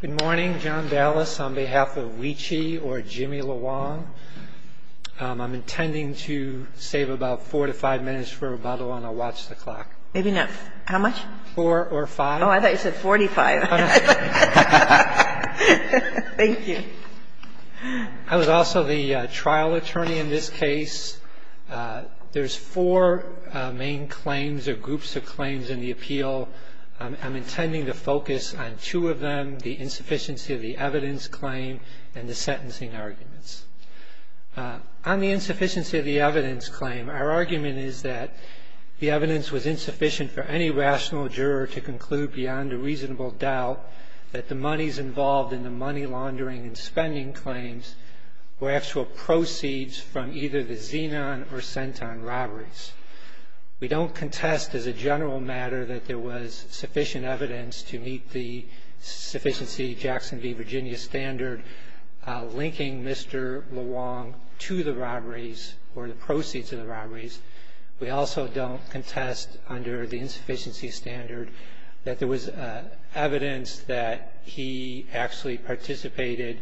Good morning, John Dallas. On behalf of Wee Chi or Jimmy Luong, I'm intending to save about 4 to 5 minutes for a rebuttal and I'll watch the clock. Maybe not, how much? 4 or 5. Oh, I thought you said 45. Thank you. I was also the trial attorney in this case. There's four main claims or groups of claims in the appeal. I'm intending to focus on two of them, the insufficiency of the evidence claim and the sentencing arguments. On the insufficiency of the evidence claim, our argument is that the evidence was insufficient for any rational juror to conclude beyond a reasonable doubt that the monies involved in the money laundering and spending claims were actual proceeds from either the Xenon or Centon robberies. We don't contest as a general matter that there was sufficient evidence to meet the sufficiency Jackson v. Virginia standard linking Mr. Luong to the robberies or the proceeds of the robberies. We also don't contest under the insufficiency standard that there was evidence that he actually participated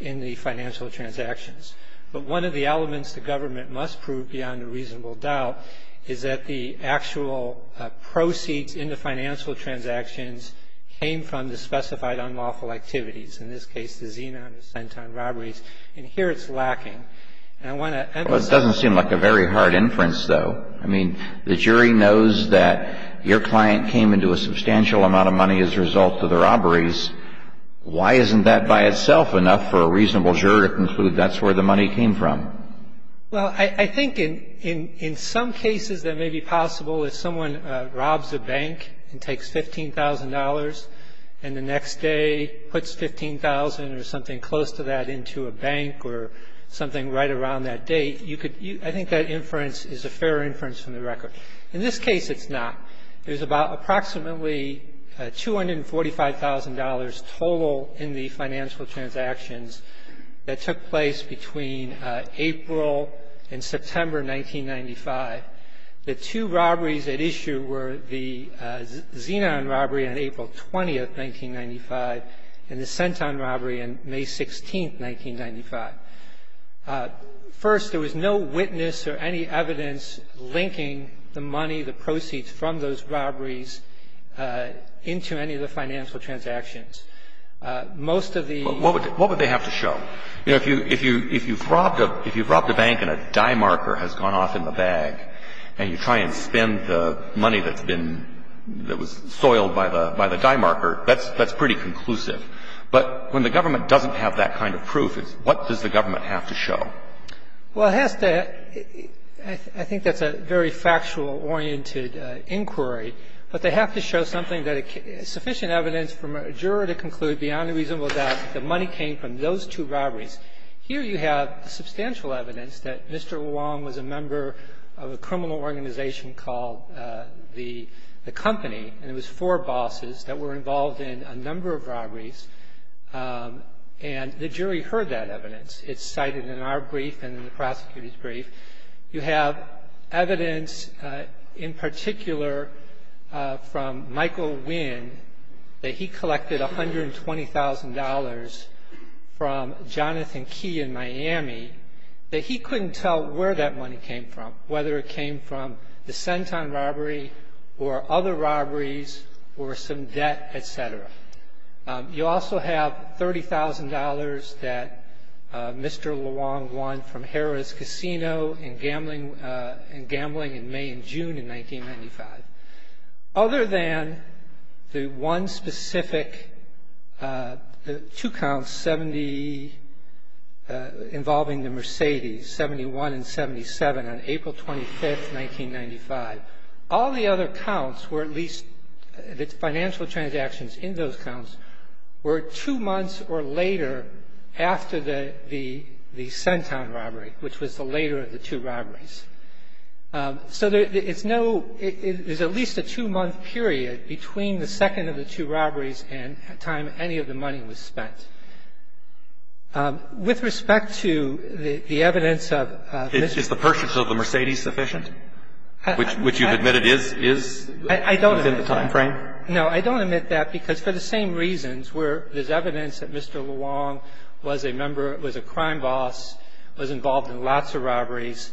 in the financial transactions. But one of the elements the government must prove beyond a reasonable doubt is that the actual proceeds in the financial transactions came from the specified unlawful activities, in this case the Xenon or Centon robberies. And here it's lacking. Well, it doesn't seem like a very hard inference, though. I mean, the jury knows that your client came into a substantial amount of money as a result of the robberies. Why isn't that by itself enough for a reasonable juror to conclude that's where the money came from? Well, I think in some cases that may be possible, if someone robs a bank and takes $15,000 and the next day puts $15,000 or something close to that into a bank or something right around that date, you could – I think that inference is a fair inference from the record. In this case, it's not. There's about approximately $245,000 total in the financial transactions that took place between April and September 1995. The two robberies at issue were the Xenon robbery on April 20th, 1995, and the Centon robbery on May 16th, 1995. First, there was no witness or any evidence linking the money, the proceeds from those robberies, into any of the financial transactions. Most of the – What would they have to show? You know, if you've robbed a bank and a die marker has gone off in the bag and you try and spend the money that's been – that was soiled by the die marker, that's pretty conclusive. But when the government doesn't have that kind of proof, what does the government have to show? Well, it has to – I think that's a very factual-oriented inquiry. But they have to show something that – sufficient evidence for a juror to conclude beyond a reasonable doubt that the money came from those two robberies. Here you have substantial evidence that Mr. Wong was a member of a criminal organization called The Company, and it was four bosses that were involved in a number of robberies. And the jury heard that evidence. It's cited in our brief and in the prosecutor's brief. You have evidence, in particular, from Michael Winn, that he collected $120,000 from Jonathan Key in Miami, that he couldn't tell where that money came from, whether it came from the Centon robbery or other robberies or some debt, et cetera. You also have $30,000 that Mr. LeWong won from Harrah's Casino in gambling in May and June in 1995. Other than the one specific – two counts, 70 involving the Mercedes, 71 and 77, on April 25, 1995, all the other counts were at least – the financial transactions in those counts were two months or later after the Centon robbery, which was the later of the two robberies. So it's no – there's at least a two-month period between the second of the two robberies and the time any of the money was spent. With respect to the evidence of Mr. LeWong – Is the purchase of the Mercedes sufficient, which you've admitted is within the timeframe? No, I don't admit that, because for the same reasons where there's evidence that Mr. LeWong was a member involved in lots of robberies,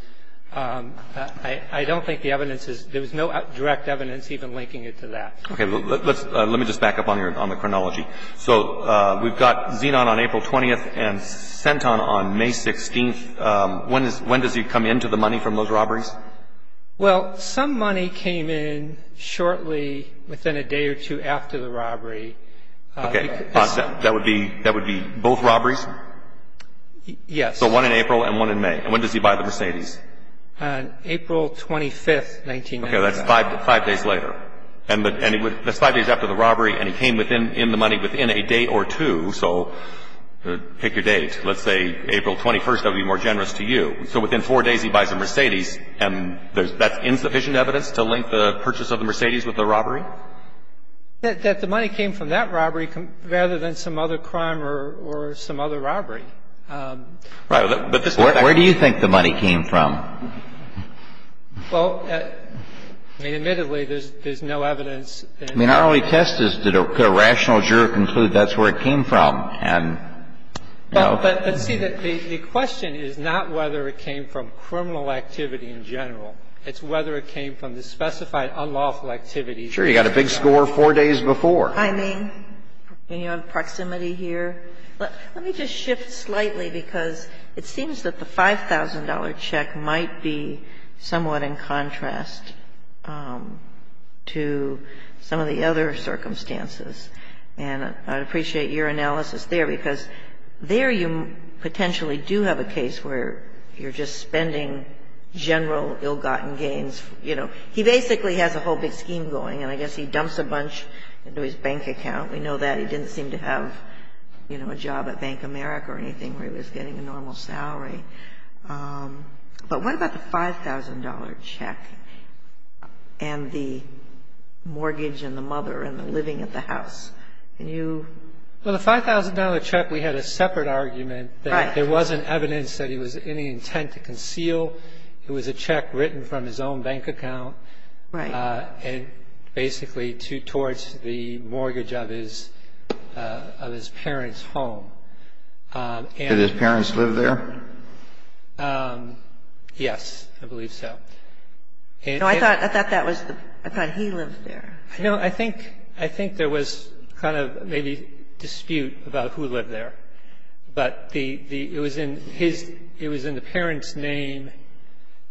I don't think the evidence is – there was no direct evidence even linking it to that. Okay. Let me just back up on the chronology. So we've got Zenon on April 20th and Centon on May 16th. When does he come into the money from those robberies? Well, some money came in shortly within a day or two after the robbery. Okay. That would be both robberies? Yes. So one in April and one in May. And when does he buy the Mercedes? April 25th, 1995. Okay. That's five days later. And he would – that's five days after the robbery, and he came in the money within a day or two. So pick your date. Let's say April 21st. That would be more generous to you. So within four days, he buys a Mercedes, and that's insufficient evidence to link the purchase of the Mercedes with the robbery? That the money came from that robbery rather than some other crime or some other robbery. Right. But this is a fact. Where do you think the money came from? Well, I mean, admittedly, there's no evidence. I mean, our only test is did a rational juror conclude that's where it came from? And, you know. But see, the question is not whether it came from criminal activity in general. It's whether it came from the specified unlawful activities. Sure. You got a big score four days before. I mean, you have proximity here. Let me just shift slightly, because it seems that the $5,000 check might be somewhat in contrast to some of the other circumstances. And I'd appreciate your analysis there, because there you potentially do have a case where you're just spending general ill-gotten gains. You know, he basically has a whole big scheme going, and I guess he dumps a bunch into his bank account. We know that. He didn't seem to have, you know, a job at Bank of America or anything where he was getting a normal salary. But what about the $5,000 check and the mortgage and the mother and the living at the house? Can you? Well, the $5,000 check, we had a separate argument that there wasn't evidence that he was of any intent to conceal. It was a check written from his own bank account. Right. And basically towards the mortgage of his parents' home. Did his parents live there? Yes, I believe so. No, I thought that was the – I thought he lived there. No, I think there was kind of maybe dispute about who lived there. But the – it was in his – it was in the parents' name.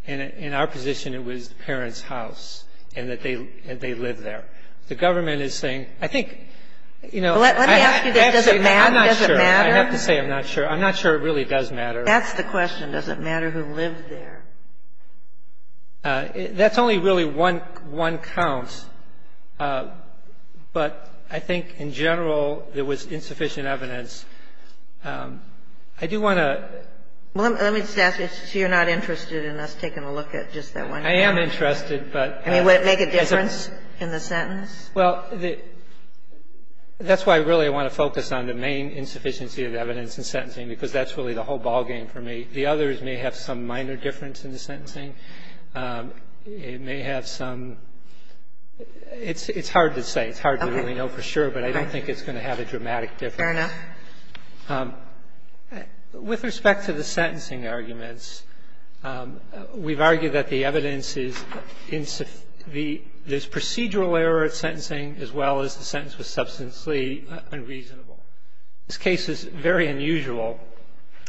In our position, it was the parents' house, and that they lived there. The government is saying, I think, you know – Let me ask you this. Does it matter? I'm not sure. Does it matter? I have to say I'm not sure. I'm not sure it really does matter. That's the question. Does it matter who lived there? That's only really one count. But I think in general, there was insufficient evidence. I do want to – Well, let me just ask you. So you're not interested in us taking a look at just that one count? I am interested, but – I mean, would it make a difference in the sentence? Well, that's why I really want to focus on the main insufficiency of evidence in sentencing, because that's really the whole ballgame for me. The others may have some minor difference in the sentencing. It may have some – it's hard to say. It's hard to really know for sure, but I don't think it's going to have a dramatic difference. Fair enough. With respect to the sentencing arguments, we've argued that the evidence is insufficient – there's procedural error at sentencing as well as the sentence was substantially unreasonable. This case is very unusual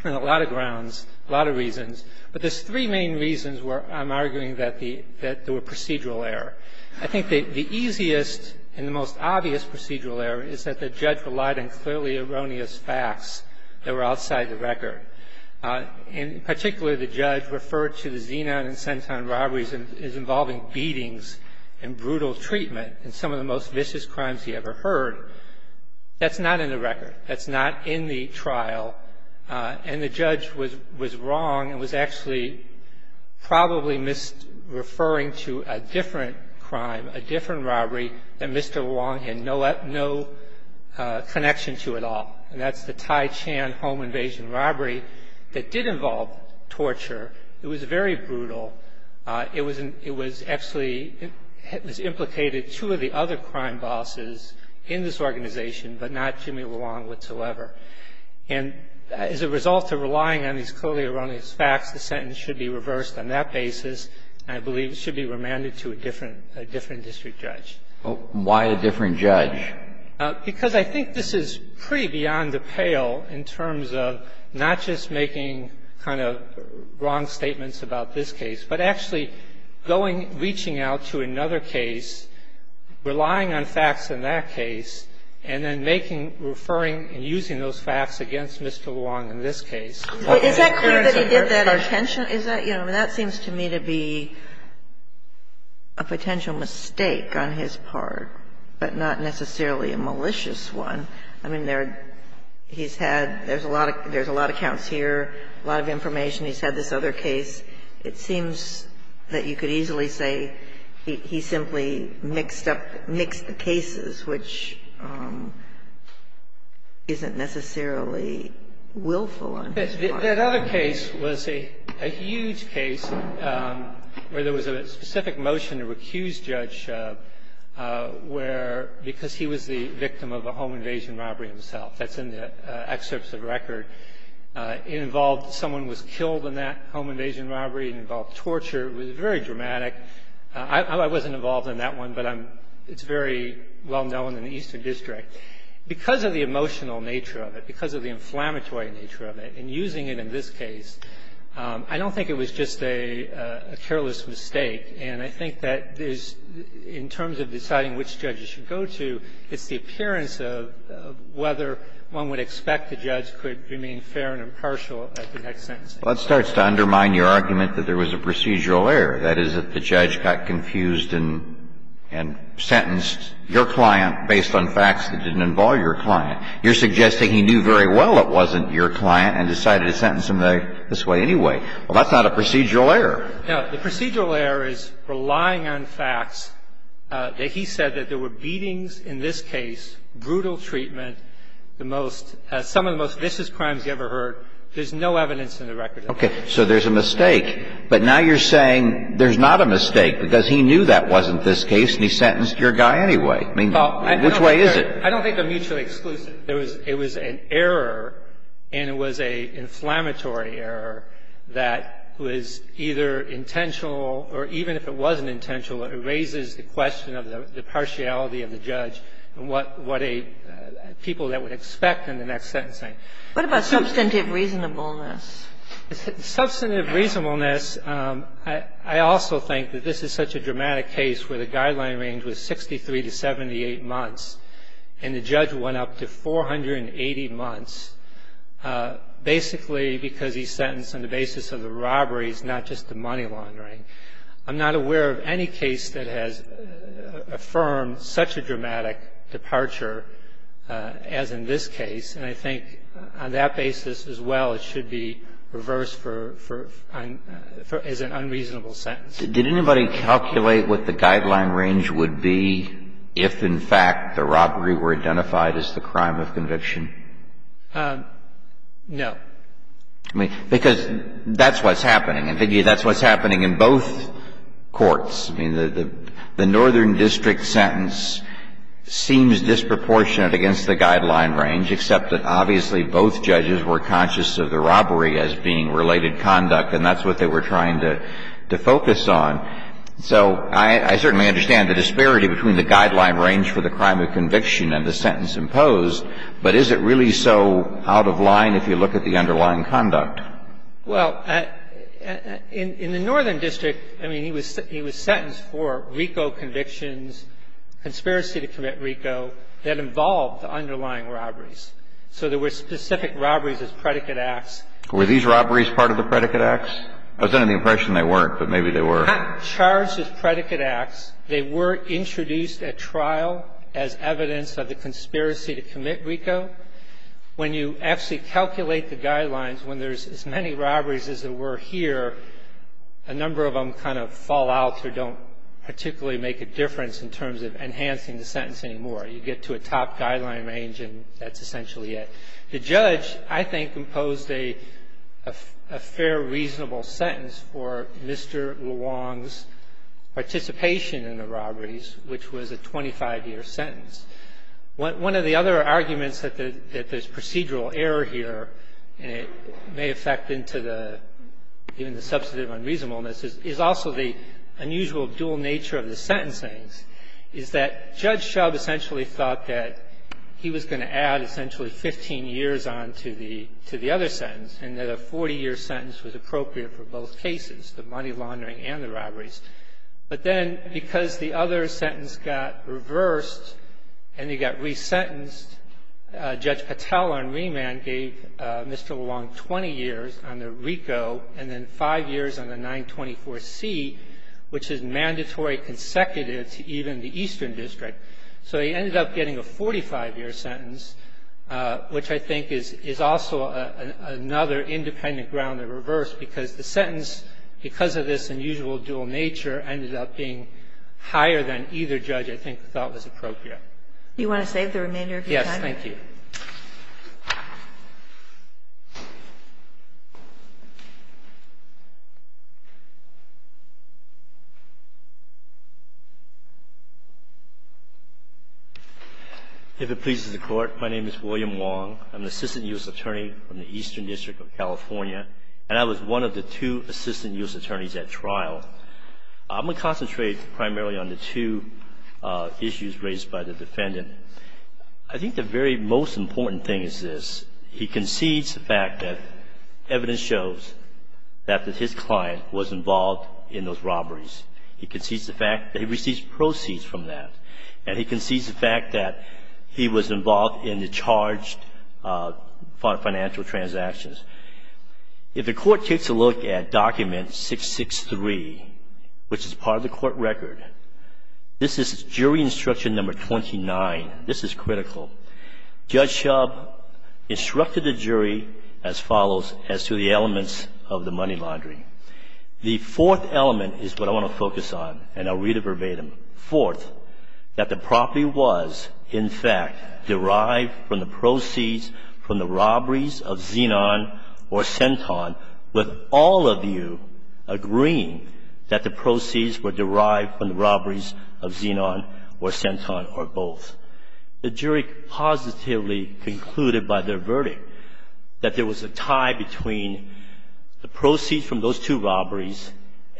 on a lot of grounds, a lot of reasons. But there's three main reasons where I'm arguing that there were procedural error. I think the easiest and the most obvious procedural error is that the judge relied on clearly erroneous facts that were outside the record. In particular, the judge referred to the Zenon and Centon robberies as involving beatings and brutal treatment in some of the most vicious crimes he ever heard. That's not in the record. That's not in the trial. And the judge was wrong and was actually probably misreferring to a different crime, a different robbery that Mr. Wong had no connection to at all, and that's the Tai Chan home invasion robbery that did involve torture. It was very brutal. It was absolutely – it was implicated two of the other crime bosses in this organization, but not Jimmy Wong whatsoever. And as a result of relying on these clearly erroneous facts, the sentence should be reversed on that basis, and I believe it should be remanded to a different district judge. Why a different judge? Because I think this is pretty beyond the pale in terms of not just making kind of wrong statements about this case, but actually going, reaching out to another case, relying on facts in that case, and then making, referring, and using those facts against Mr. Wong in this case. But is that clear that he did that intentionally? Is that – you know, that seems to me to be a potential mistake on his part, but not necessarily a malicious one. I mean, he's had – there's a lot of accounts here, a lot of information. He's had this other case. It seems that you could easily say he simply mixed up – mixed the cases, which isn't necessarily willful on his part. That other case was a huge case where there was a specific motion to recuse Judge where – because he was the victim of a home invasion robbery himself. That's in the excerpts of the record. It involved – someone was killed in that home invasion robbery. It involved torture. It was very dramatic. I wasn't involved in that one, but I'm – it's very well known in the Eastern District. Because of the emotional nature of it, because of the inflammatory nature of it, and using it in this case, I don't think it was just a careless mistake. And I think that there's – in terms of deciding which judge you should go to, it's the appearance of whether one would expect the judge could remain fair and impartial at the next sentencing. Well, that starts to undermine your argument that there was a procedural error, that is, that the judge got confused and sentenced your client based on facts that didn't involve your client. You're suggesting he knew very well it wasn't your client and decided to sentence him this way anyway. Well, that's not a procedural error. No. The procedural error is relying on facts that he said that there were beatings in this case, brutal treatment, the most – some of the most vicious crimes you ever heard. There's no evidence in the record. Okay. So there's a mistake. But now you're saying there's not a mistake, because he knew that wasn't this case, and he sentenced your guy anyway. I mean, which way is it? I don't think they're mutually exclusive. There was an error, and it was an inflammatory error that was either intentional or even if it wasn't intentional, it raises the question of the partiality of the judge and what a – people that would expect in the next sentencing. What about substantive reasonableness? Substantive reasonableness, I also think that this is such a dramatic case where the guideline range was 63 to 78 months, and the judge went up to 480 months basically because he's sentenced on the basis of the robberies, not just the money laundering. I'm not aware of any case that has affirmed such a dramatic departure as in this case, and I think on that basis as well it should be reversed for – as an unreasonable sentence. Did anybody calculate what the guideline range would be if, in fact, the robbery were identified as the crime of conviction? No. I mean, because that's what's happening. And that's what's happening in both courts. I mean, the Northern District sentence seems disproportionate against the guideline range, except that obviously both judges were conscious of the robbery as being related to the crime of conviction. And that's what they were trying to focus on. So I certainly understand the disparity between the guideline range for the crime of conviction and the sentence imposed, but is it really so out of line if you look at the underlying conduct? Well, in the Northern District, I mean, he was sentenced for RICO convictions, conspiracy to commit RICO that involved the underlying robberies. So there were specific robberies as predicate acts. Were these robberies part of the predicate acts? I was under the impression they weren't, but maybe they were. Not charged as predicate acts. They were introduced at trial as evidence of the conspiracy to commit RICO. When you actually calculate the guidelines, when there's as many robberies as there were here, a number of them kind of fall out or don't particularly make a difference in terms of enhancing the sentence anymore. You get to a top guideline range and that's essentially it. The judge, I think, imposed a fair, reasonable sentence for Mr. Luong's participation in the robberies, which was a 25-year sentence. One of the other arguments that there's procedural error here and it may affect into the substantive unreasonableness is also the unusual dual nature of the sentencing is that Judge Shub essentially thought that he was going to add essentially 15 years on to the other sentence and that a 40-year sentence was appropriate for both cases, the money laundering and the robberies. But then because the other sentence got reversed and he got resentenced, Judge Patel on remand gave Mr. Luong 20 years on the RICO and then five years on the 924C, which is mandatory consecutive to even the Eastern District. So he ended up getting a 45-year sentence, which I think is also another independent ground that reversed because the sentence, because of this unusual dual nature, ended up being higher than either judge, I think, thought was appropriate. Do you want to save the remainder of your time? Yes, thank you. If it pleases the Court, my name is William Luong. I'm an assistant U.S. attorney in the Eastern District of California, and I was one of the two assistant U.S. attorneys at trial. I'm going to concentrate primarily on the two issues raised by the defendant. I think the very most important thing is this. He concedes the fact that evidence shows that his client was involved in those robberies. He concedes the fact that he received proceeds from that. And he concedes the fact that he was involved in the charged financial transactions. If the Court takes a look at document 663, which is part of the Court record, this is jury instruction number 29. This is critical. Judge Shub instructed the jury as follows as to the elements of the money laundering. The fourth element is what I want to focus on, and I'll read it verbatim. Fourth, that the property was, in fact, derived from the proceeds from the robberies of Xenon or Centon, with all of you agreeing that the proceeds were derived from the robberies of Xenon or Centon or both. The jury positively concluded by their verdict that there was a tie between the proceeds from those two robberies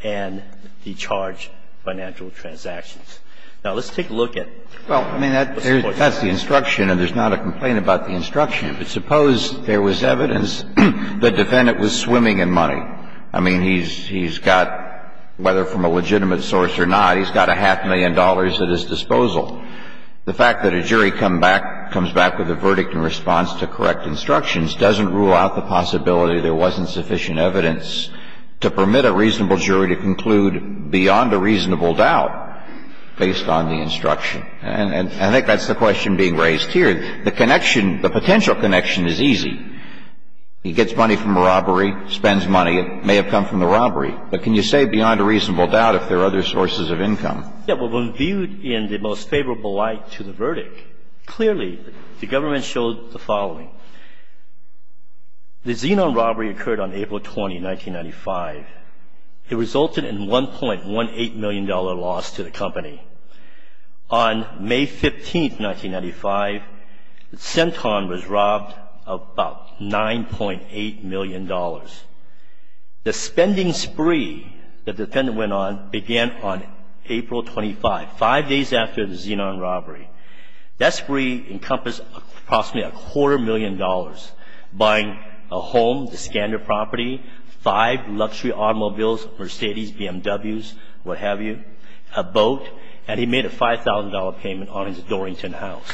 and the charged financial transactions. Now, let's take a look at what's going on. That's the instruction, and there's not a complaint about the instruction. But suppose there was evidence the defendant was swimming in money. I mean, he's got, whether from a legitimate source or not, he's got a half million dollars at his disposal. The fact that a jury comes back with a verdict in response to correct instructions doesn't rule out the possibility there wasn't sufficient evidence to permit a reasonable jury to conclude beyond a reasonable doubt based on the instruction. And I think that's the question being raised here. The connection, the potential connection is easy. He gets money from a robbery, spends money. It may have come from the robbery. But can you say beyond a reasonable doubt if there are other sources of income? Yeah, but when viewed in the most favorable light to the verdict, clearly the government showed the following. The Xenon robbery occurred on April 20, 1995. It resulted in $1.18 million loss to the company. On May 15, 1995, Centon was robbed of about $9.8 million. The spending spree the defendant went on began on April 25, five days after the Xenon robbery. That spree encompassed approximately a quarter million dollars, buying a home, the Scandor property, five luxury automobiles, Mercedes, BMWs, what have you, a boat, and he made a $5,000 payment on his Dorrington house.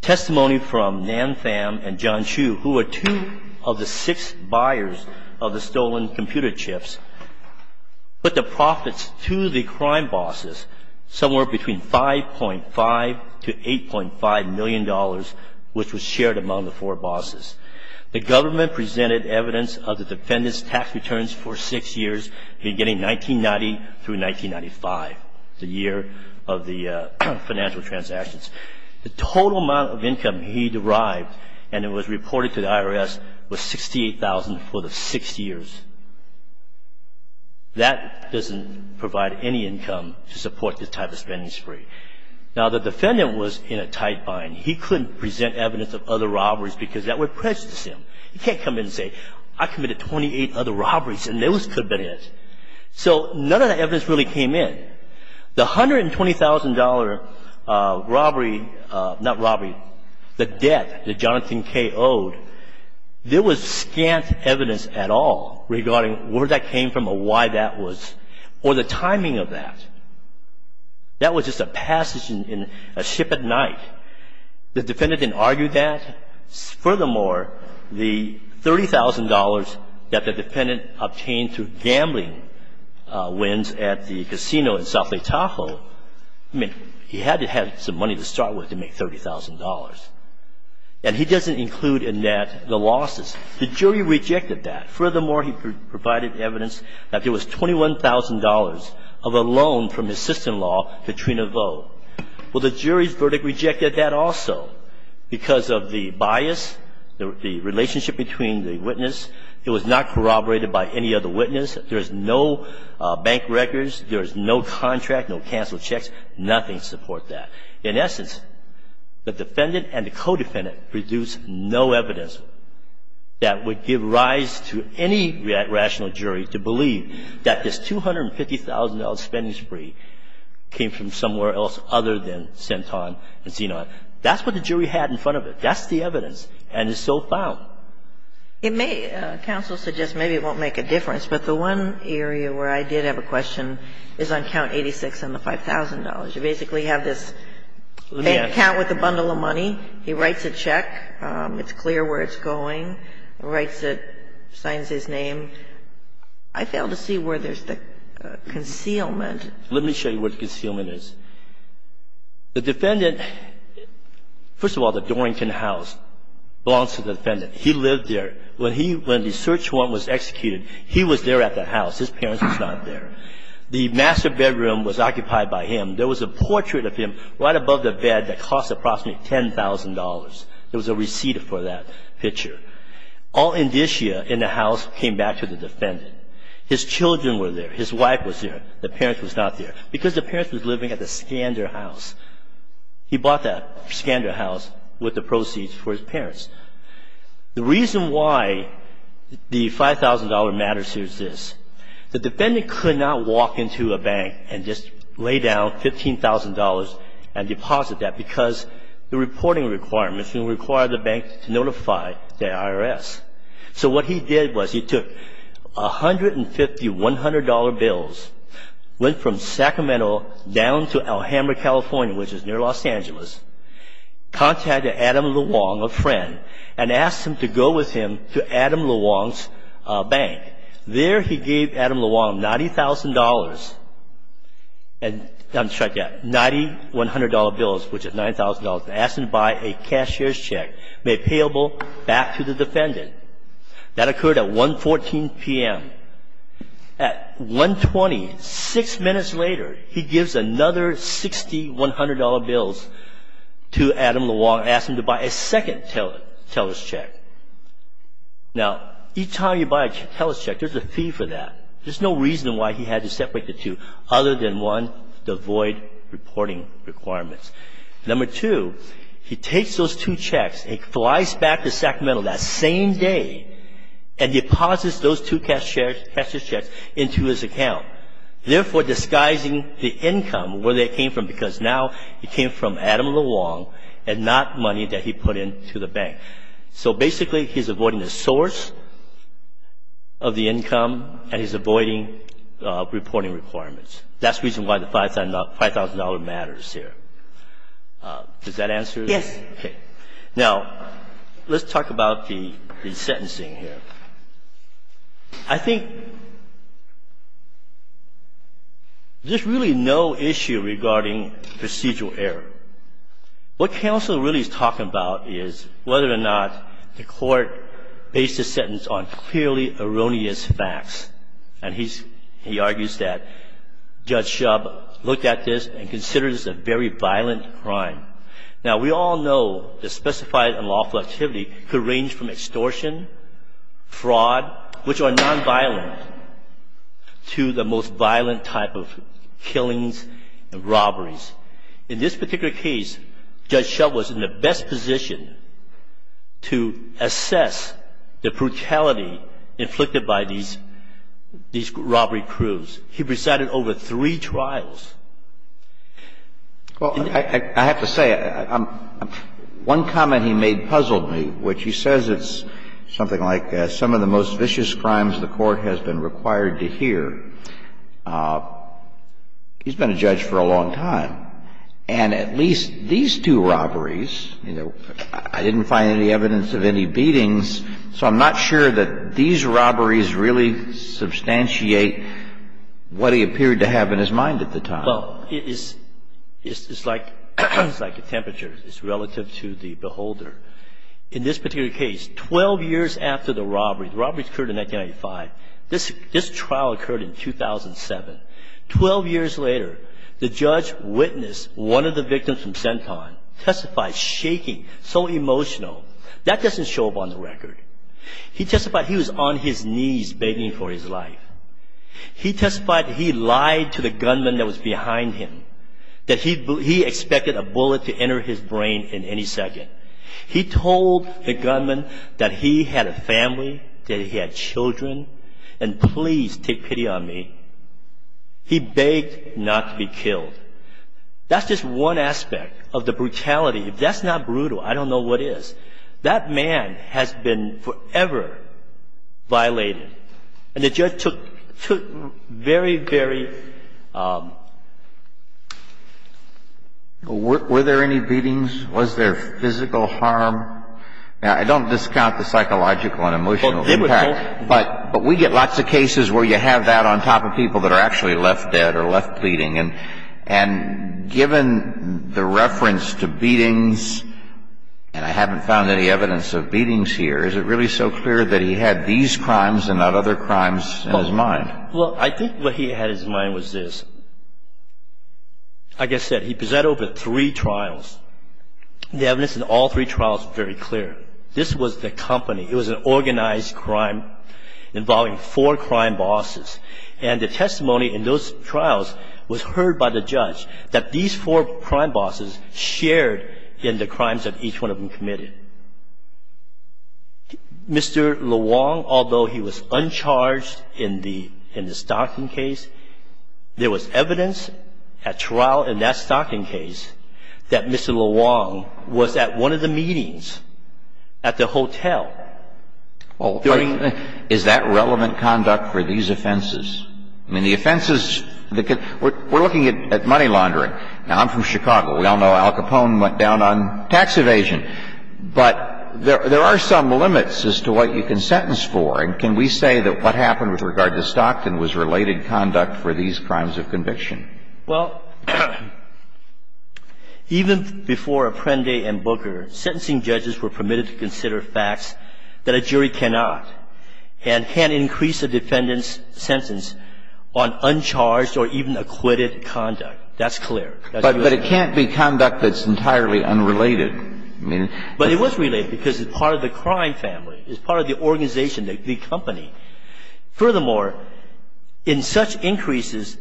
Testimony from Nan Pham and John Chu, who were two of the six buyers of the stolen computer chips, put the profits to the crime bosses somewhere between $5.5 to $8.5 million, which was shared among the four bosses. The government presented evidence of the defendant's tax returns for six years, beginning 1990 through 1995, the year of the financial transactions. The total amount of income he derived and it was reported to the IRS was $68,000 for the six years. That doesn't provide any income to support this type of spending spree. Now, the defendant was in a tight bind. He couldn't present evidence of other robberies because that would prejudice him. He can't come in and say, I committed 28 other robberies and those could have been his. So none of the evidence really came in. The $120,000 robbery, not robbery, the debt that Jonathan Kay owed, there was scant evidence at all regarding where that came from or why that was or the timing of that. That was just a passage in a ship at night. The defendant didn't argue that. Furthermore, the $30,000 that the defendant obtained through gambling wins at the casino in South Lake Tahoe, I mean, he had to have some money to start with to make $30,000. And he doesn't include in that the losses. The jury rejected that. Furthermore, he provided evidence that there was $21,000 of a loan from his sister-in-law Katrina Vo. Well, the jury's verdict rejected that also because of the bias, the relationship between the witness. It was not corroborated by any other witness. There is no bank records. There is no contract, no canceled checks, nothing to support that. In essence, the defendant and the co-defendant produced no evidence that would give rise to any rational jury to believe that this $250,000 spending spree came from somewhere else other than Centon and Zenon. That's what the jury had in front of it. That's the evidence. And it's still found. It may, counsel suggests maybe it won't make a difference. But the one area where I did have a question is on Count 86 and the $5,000. You basically have this bank account with a bundle of money. He writes a check. It's clear where it's going. He writes it, signs his name. I fail to see where there's the concealment. Let me show you where the concealment is. The defendant, first of all, the Dorrington house belongs to the defendant. He lived there. When the search warrant was executed, he was there at the house. His parents were not there. The master bedroom was occupied by him. There was a portrait of him right above the bed that cost approximately $10,000. There was a receipt for that picture. All indicia in the house came back to the defendant. His children were there. His wife was there. The parents was not there. Because the parents was living at the Scander house. He bought that Scander house with the proceeds for his parents. The reason why the $5,000 matters here is this. The defendant could not walk into a bank and just lay down $15,000 and deposit that because the reporting requirements would require the bank to notify the IRS. So what he did was he took $150, $100 bills, went from Sacramento down to Alhambra, California, which is near Los Angeles, contacted Adam LeWong, a friend, and asked him to go with him to Adam LeWong's bank. There he gave Adam LeWong $90,000 bills, which is $9,000, asked him to buy a cashier's check made payable back to the defendant. That occurred at 1.14 p.m. At 1.20, six minutes later, he gives another $60, $100 bills to Adam LeWong, asked him to buy a second teller's check. Now, each time you buy a teller's check, there's a fee for that. There's no reason why he had to separate the two other than, one, to avoid reporting requirements. Number two, he takes those two checks and flies back to Sacramento that same day and deposits those two cashier's checks into his account, therefore disguising the income where they came from because now it came from Adam LeWong and not money that he put into the bank. So basically he's avoiding the source of the income and he's avoiding reporting requirements. That's the reason why the $5,000 matters here. Does that answer it? Yes. Okay. Now, let's talk about the sentencing here. I think there's really no issue regarding procedural error. What counsel really is talking about is whether or not the court based the sentence on clearly erroneous facts. And he argues that Judge Shub looked at this and considered this a very violent crime. Now, we all know the specified unlawful activity could range from extortion, fraud, which are nonviolent, to the most violent type of killings and robberies. In this particular case, Judge Shub was in the best position to assess the brutality inflicted by these robbery crews. He presided over three trials. Well, I have to say, one comment he made puzzled me, which he says it's something like some of the most vicious crimes the Court has been required to hear. He's been a judge for a long time. And at least these two robberies, you know, I didn't find any evidence of any beatings, so I'm not sure that these robberies really substantiate what he appeared to have in his mind at the time. Well, it's like a temperature. It's relative to the beholder. In this particular case, 12 years after the robbery, the robbery occurred in 1995. This trial occurred in 2007. Twelve years later, the judge witnessed one of the victims from Centon testified shaking, so emotional. That doesn't show up on the record. He testified he was on his knees begging for his life. He testified he lied to the gunman that was behind him, that he expected a bullet to enter his brain in any second. He told the gunman that he had a family, that he had children, and please take pity on me. He begged not to be killed. That's just one aspect of the brutality. If that's not brutal, I don't know what is. That man has been forever violated. And the judge took very, very ---- Were there any beatings? Was there physical harm? Now, I don't discount the psychological and emotional impact. But we get lots of cases where you have that on top of people that are actually left dead or left pleading. And given the reference to beatings, and I haven't found any evidence of beatings here, is it really so clear that he had these crimes and not other crimes in his mind? Well, I think what he had in his mind was this. Like I said, he presented over three trials. The evidence in all three trials was very clear. This was the company. It was an organized crime involving four crime bosses. And the testimony in those trials was heard by the judge, that these four crime bosses shared in the crimes that each one of them committed. Mr. LeWong, although he was uncharged in the Stockton case, there was evidence at trial in that Stockton case that Mr. LeWong was at one of the meetings at the hotel. Well, I mean, is that relevant conduct for these offenses? I mean, the offenses, we're looking at money laundering. Now, I'm from Chicago. We all know Al Capone went down on tax evasion. But there are some limits as to what you can sentence for. And can we say that what happened with regard to Stockton was related conduct for these crimes of conviction? Well, even before Apprendi and Booker, sentencing judges were permitted to consider facts that a jury cannot and can't increase a defendant's sentence on uncharged or even acquitted conduct. That's clear. But it can't be conduct that's entirely unrelated. But it was related because it's part of the crime family. It's part of the organization, the company. Furthermore, in such increases,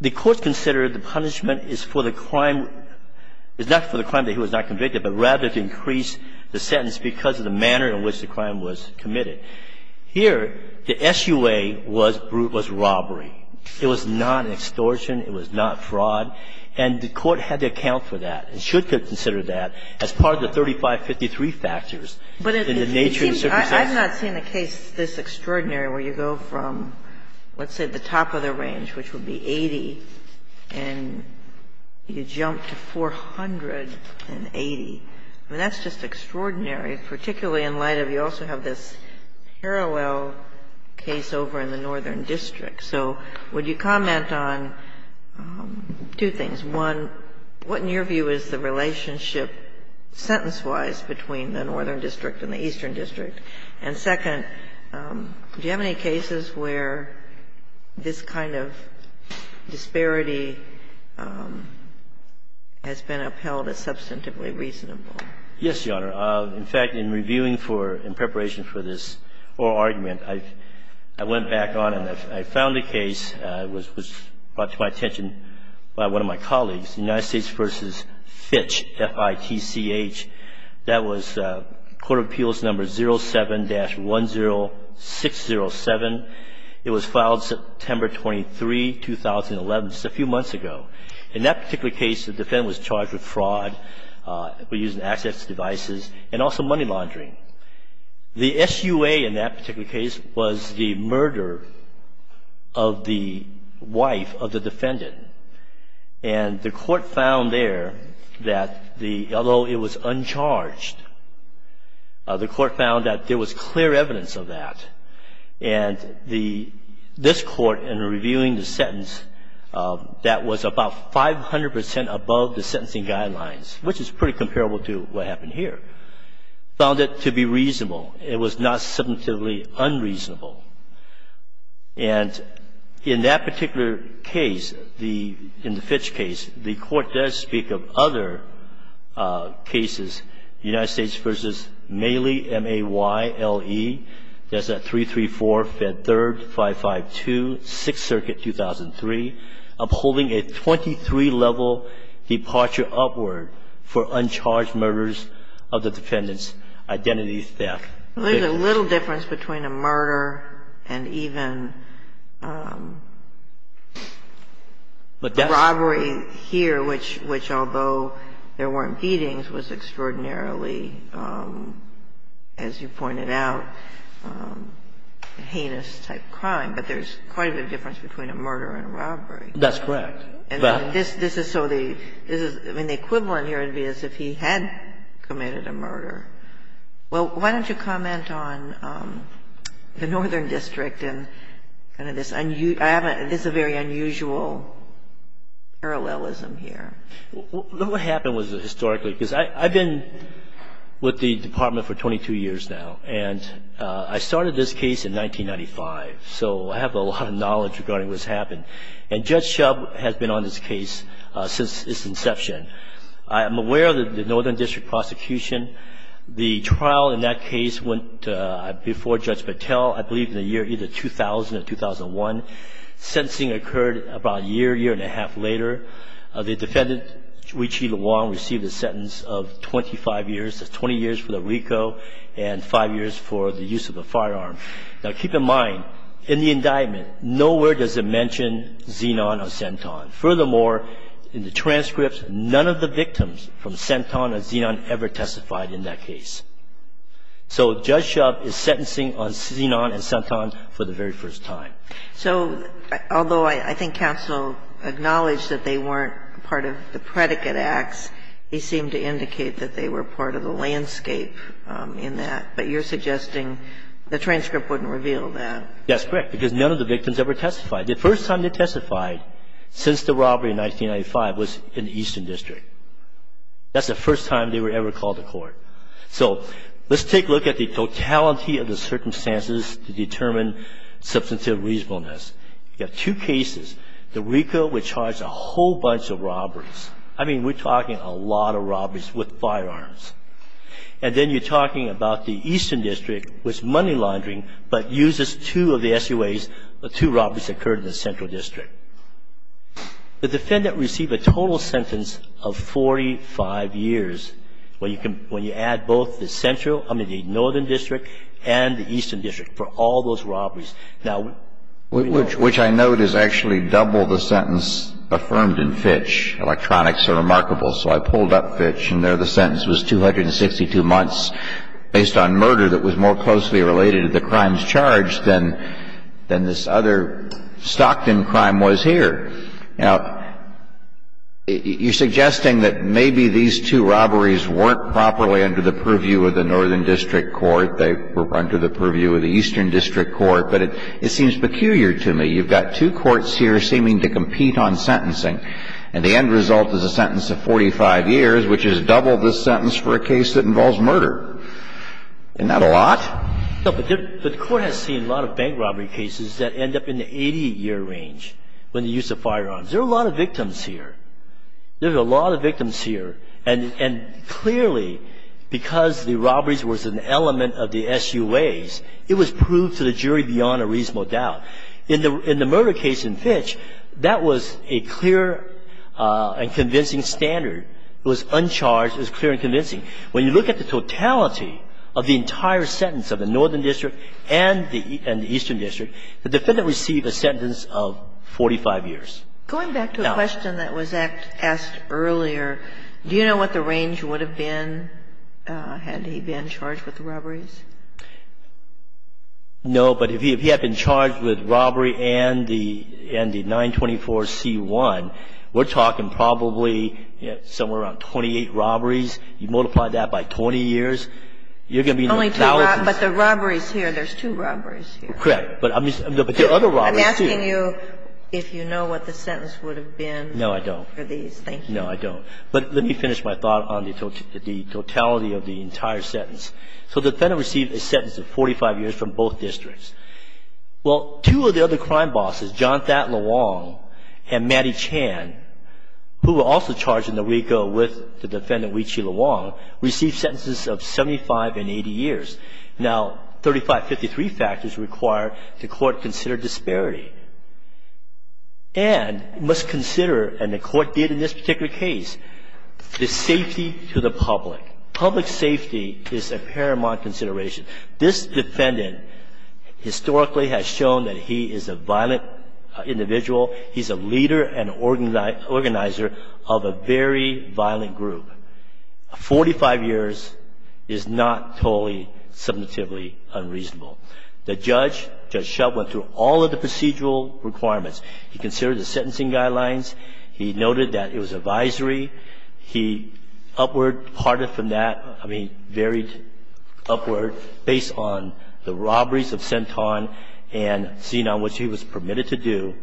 the Court considered the punishment is for the crime – is not for the crime that he was not convicted, but rather to increase the sentence because of the manner in which the crime was committed. Here, the SUA was robbery. It was not extortion. It was not fraud. And the Court had to account for that and should consider that as part of the 3553 factors in the nature of the circumstances. I've not seen a case this extraordinary where you go from, let's say, the top of the range, which would be 80, and you jump to 480. I mean, that's just extraordinary, particularly in light of you also have this parallel case over in the Northern District. So would you comment on two things? One, what in your view is the relationship sentence-wise between the Northern District and the Eastern District? And second, do you have any cases where this kind of disparity has been upheld as substantively reasonable? Yes, Your Honor. In fact, in reviewing for – in preparation for this oral argument, I went back on and I found a case. It was brought to my attention by one of my colleagues, United States v. Fitch, F-I-T-C-H. That was Court of Appeals number 07-10607. It was filed September 23, 2011, just a few months ago. In that particular case, the defendant was charged with fraud, using access devices, and also money laundering. The SUA in that particular case was the murder of the wife of the defendant. And the court found there that the – although it was uncharged, the court found that there was clear evidence of that. And the – this court, in reviewing the sentence, that was about 500 percent above the sentencing guidelines, which is pretty comparable to what happened here, found it to be reasonable. It was not substantively unreasonable. And in that particular case, the – in the Fitch case, the court does speak of other cases. United States v. Maley, M-A-Y-L-E, that's at 334, Fed 3rd, 552, Sixth Circuit, 2003, upholding a 23-level departure upward for uncharged murders of the defendant's identity theft victims. There's a little difference between a murder and even robbery here, which although there weren't beatings, was extraordinarily, as you pointed out, heinous-type crime. But there's quite a bit of difference between a murder and a robbery. That's correct. And this is so the – I mean, the equivalent here would be as if he had committed a murder. Well, why don't you comment on the Northern District and kind of this – I haven't – this is a very unusual parallelism here. Well, what happened was historically – because I've been with the Department for 22 years now. And I started this case in 1995. So I have a lot of knowledge regarding what's happened. And Judge Shub has been on this case since its inception. I am aware of the Northern District prosecution. The trial in that case went before Judge Patel, I believe, in the year either 2000 or 2001. Sentencing occurred about a year, year and a half later. The defendant, Ruiqi Luang, received a sentence of 25 years. That's 20 years for the RICO and five years for the use of a firearm. Now, keep in mind, in the indictment, nowhere does it mention xenon or xenton. Furthermore, in the transcripts, none of the victims from xenton or xenon ever testified in that case. So Judge Shub is sentencing on xenon and xenton for the very first time. So although I think counsel acknowledged that they weren't part of the predicate acts, they seem to indicate that they were part of the landscape in that. But you're suggesting the transcript wouldn't reveal that. That's correct, because none of the victims ever testified. The first time they testified since the robbery in 1995 was in the Eastern District. That's the first time they were ever called to court. So let's take a look at the totality of the circumstances to determine substantive reasonableness. You have two cases. The RICO would charge a whole bunch of robberies. I mean, we're talking a lot of robberies with firearms. And then you're talking about the Eastern District was money laundering but uses two of the SUAs, the two robberies that occurred in the Central District. The defendant received a total sentence of 45 years. When you add both the Central, I mean, the Northern District and the Eastern District for all those robberies. Now, we know that. Which I note is actually double the sentence affirmed in Fitch. Electronics are remarkable. So I pulled up Fitch and there the sentence was 262 months based on murder that was more closely related to the crimes charged than this other Stockton crime was here. Now, you're suggesting that maybe these two robberies weren't properly under the purview of the Northern District Court. They were under the purview of the Eastern District Court. But it seems peculiar to me. You've got two courts here seeming to compete on sentencing. And the end result is a sentence of 45 years, which is double the sentence for a case that involves murder. Isn't that a lot? No, but the Court has seen a lot of bank robbery cases that end up in the 80-year range when they use the firearms. There are a lot of victims here. There are a lot of victims here. And clearly, because the robberies was an element of the SUAs, it was proved to the jury beyond a reasonable doubt. In the murder case in Fitch, that was a clear and convincing standard. It was uncharged. It was clear and convincing. When you look at the totality of the entire sentence of the Northern District and the Eastern District, the defendant received a sentence of 45 years. Going back to a question that was asked earlier, do you know what the range would have been had he been charged with the robberies? No, but if he had been charged with robbery and the 924c1, we're talking probably somewhere around 28 robberies. You multiply that by 20 years, you're going to be in the thousands. Only two robberies. But the robberies here, there's two robberies here. Correct. But there are other robberies here. I'm asking you if you know what the sentence would have been for these. No, I don't. Thank you. No, I don't. But let me finish my thought on the totality of the entire sentence. So the defendant received a sentence of 45 years from both districts. Well, two of the other crime bosses, John Thad LeWong and Mattie Chan, who were also charged in the RICO with the defendant, Wee Chi LeWong, received sentences of 75 and 80 years. Now, 3553 factors require the court to consider disparity and must consider, and the court did in this particular case, the safety to the public. Public safety is a paramount consideration. This defendant historically has shown that he is a violent individual. He's a leader and organizer of a very violent group. Forty-five years is not totally, submissively unreasonable. The judge, Judge Shub, went through all of the procedural requirements. He considered the sentencing guidelines. He noted that it was advisory. He upward parted from that, I mean, varied upward based on the robberies of Centon and Zenon, which he was permitted to do.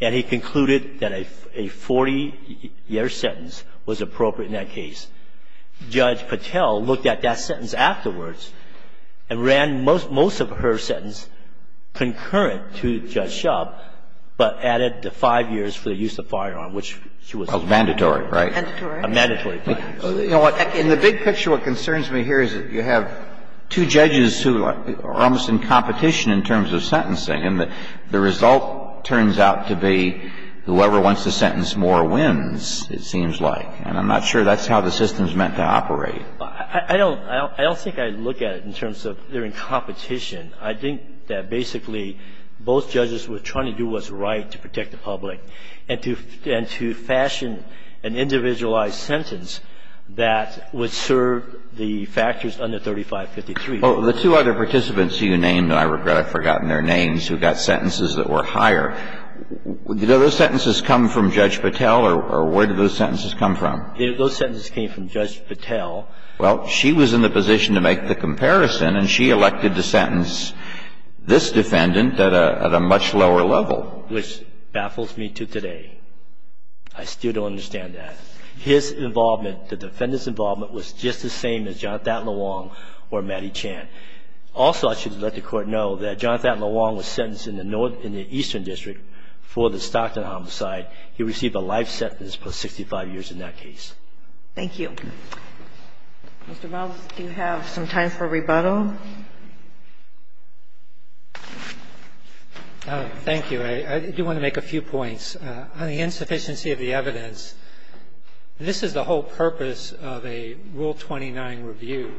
And he concluded that a 40-year sentence was appropriate in that case. Judge Patel looked at that sentence afterwards and ran most of her sentence concurrent to Judge Shub, but added the five years for the use of firearm, which she was not. And he concluded that it was a mandatory, right? Mandatory. Mandatory. In the big picture, what concerns me here is that you have two judges who are almost in competition in terms of sentencing, and the result turns out to be whoever wants to sentence more wins, it seems like. And I'm not sure that's how the system is meant to operate. I don't think I look at it in terms of they're in competition. I think that basically, both judges were trying to do what's right to protect the public and to fashion an individualized sentence that would serve the factors under 3553. Well, the two other participants who you named, and I regret I've forgotten their names, who got sentences that were higher, did those sentences come from Judge Patel or where did those sentences come from? Those sentences came from Judge Patel. Well, she was in the position to make the comparison, and she elected to sentence this defendant at a much lower level. Which baffles me to today. I still don't understand that. His involvement, the defendant's involvement was just the same as Johnathan LeWong or Matty Chan. Also, I should let the Court know that Johnathan LeWong was sentenced in the northern and the eastern district for the Stockton homicide. He received a life sentence for 65 years in that case. Thank you. Mr. Malz, do you have some time for rebuttal? Malz, thank you. I do want to make a few points. On the insufficiency of the evidence, this is the whole purpose of a Rule 29 review.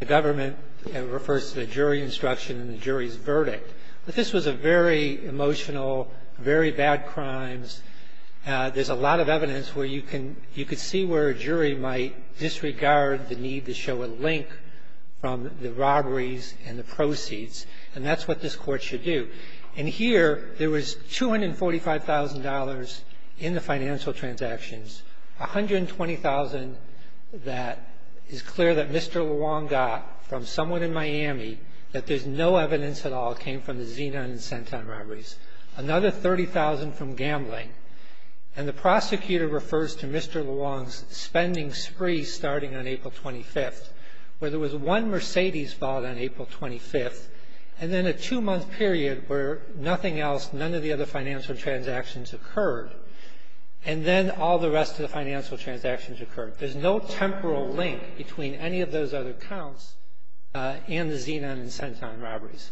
The government refers to the jury instruction and the jury's verdict. But this was a very emotional, very bad crimes. There's a lot of evidence where you can see where a jury might disregard the need to show a link from the robberies and the proceeds. And that's what this Court should do. And here, there was $245,000 in the financial transactions, $120,000 that is clear that Mr. LeWong got from someone in Miami, that there's no evidence at all came from the Zenon and Centon robberies. Another $30,000 from gambling. And the prosecutor refers to Mr. LeWong's spending spree starting on April 25th, where there was one Mercedes bought on April 25th, and then a two-month period where nothing else, none of the other financial transactions occurred. And then all the rest of the financial transactions occurred. There's no temporal link between any of those other counts and the Zenon and Centon robberies.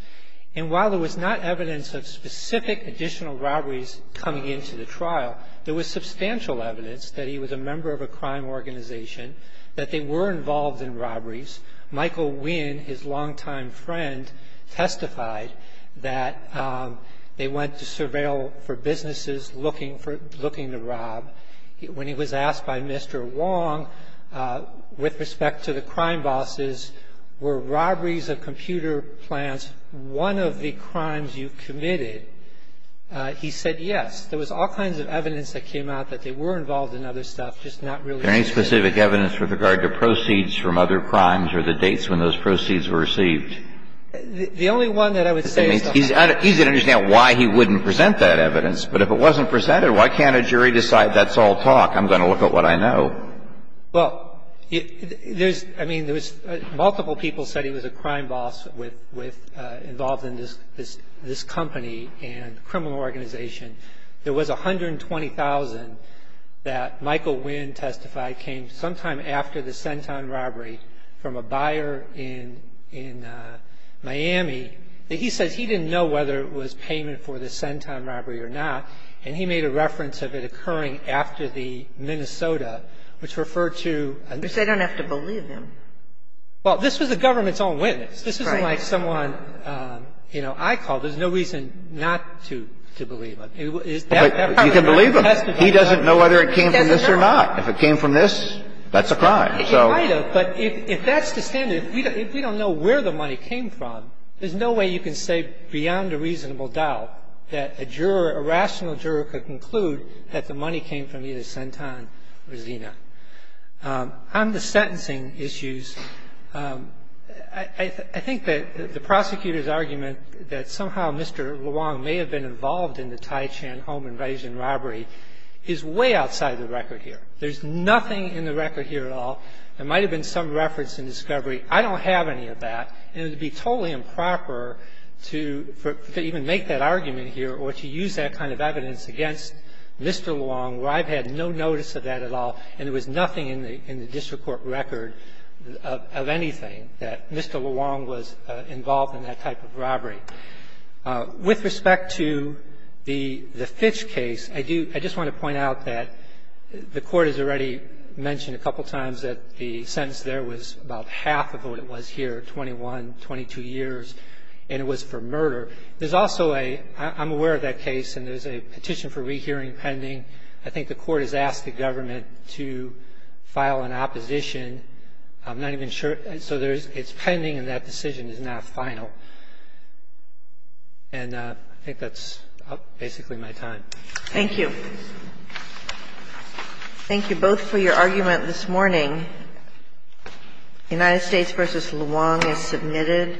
And while there was not evidence of specific additional robberies coming into the trial, there was substantial evidence that he was a member of a crime organization, that they were involved in robberies. Michael Winn, his longtime friend, testified that they went to surveil for businesses looking to rob. When he was asked by Mr. LeWong with respect to the crime bosses, were robberies of computer plants one of the crimes you committed, he said yes. There was all kinds of evidence that came out that they were involved in other stuff, just not really specific. There any specific evidence with regard to proceeds from other crimes or the dates when those proceeds were received? The only one that I would say is that he's going to understand why he wouldn't present that evidence. But if it wasn't presented, why can't a jury decide that's all talk? I'm going to look at what I know. Well, I mean, multiple people said he was a crime boss involved in this company and criminal organization. There was $120,000 that Michael Winn testified came sometime after the Centon robbery from a buyer in Miami. He says he didn't know whether it was payment for the Centon robbery or not, and he made a reference of it occurring after the Minnesota, which referred to another. Because they don't have to believe him. Well, this was the government's own witness. This isn't like someone, you know, I called. There's no reason not to believe him. You can believe him. He doesn't know whether it came from this or not. If it came from this, that's a crime. But if that's the standard, if we don't know where the money came from, there's no way you can say beyond a reasonable doubt that a juror, a rational juror could conclude that the money came from either Centon or Zina. On the sentencing issues, I think that the prosecutor's argument that somehow Mr. Luong may have been involved in the Tai Chan home invasion robbery is way outside the record here. There's nothing in the record here at all. There might have been some reference in discovery. I don't have any of that. And it would be totally improper to even make that argument here or to use that kind of evidence against Mr. Luong, where I've had no notice of that at all and there was nothing in the district court record of anything that Mr. Luong was involved in that type of robbery. With respect to the Fitch case, I do – I just want to point out that the Court has already mentioned a couple times that the sentence there was about half of what it was here, 21, 22 years, and it was for murder. There's also a – I'm aware of that case, and there's a petition for rehearing pending. I think the Court has asked the government to file an opposition. I'm not even sure – so there's – it's pending, and that decision is not final. And I think that's basically my time. Thank you. Thank you both for your argument this morning. United States v. Luong is submitted.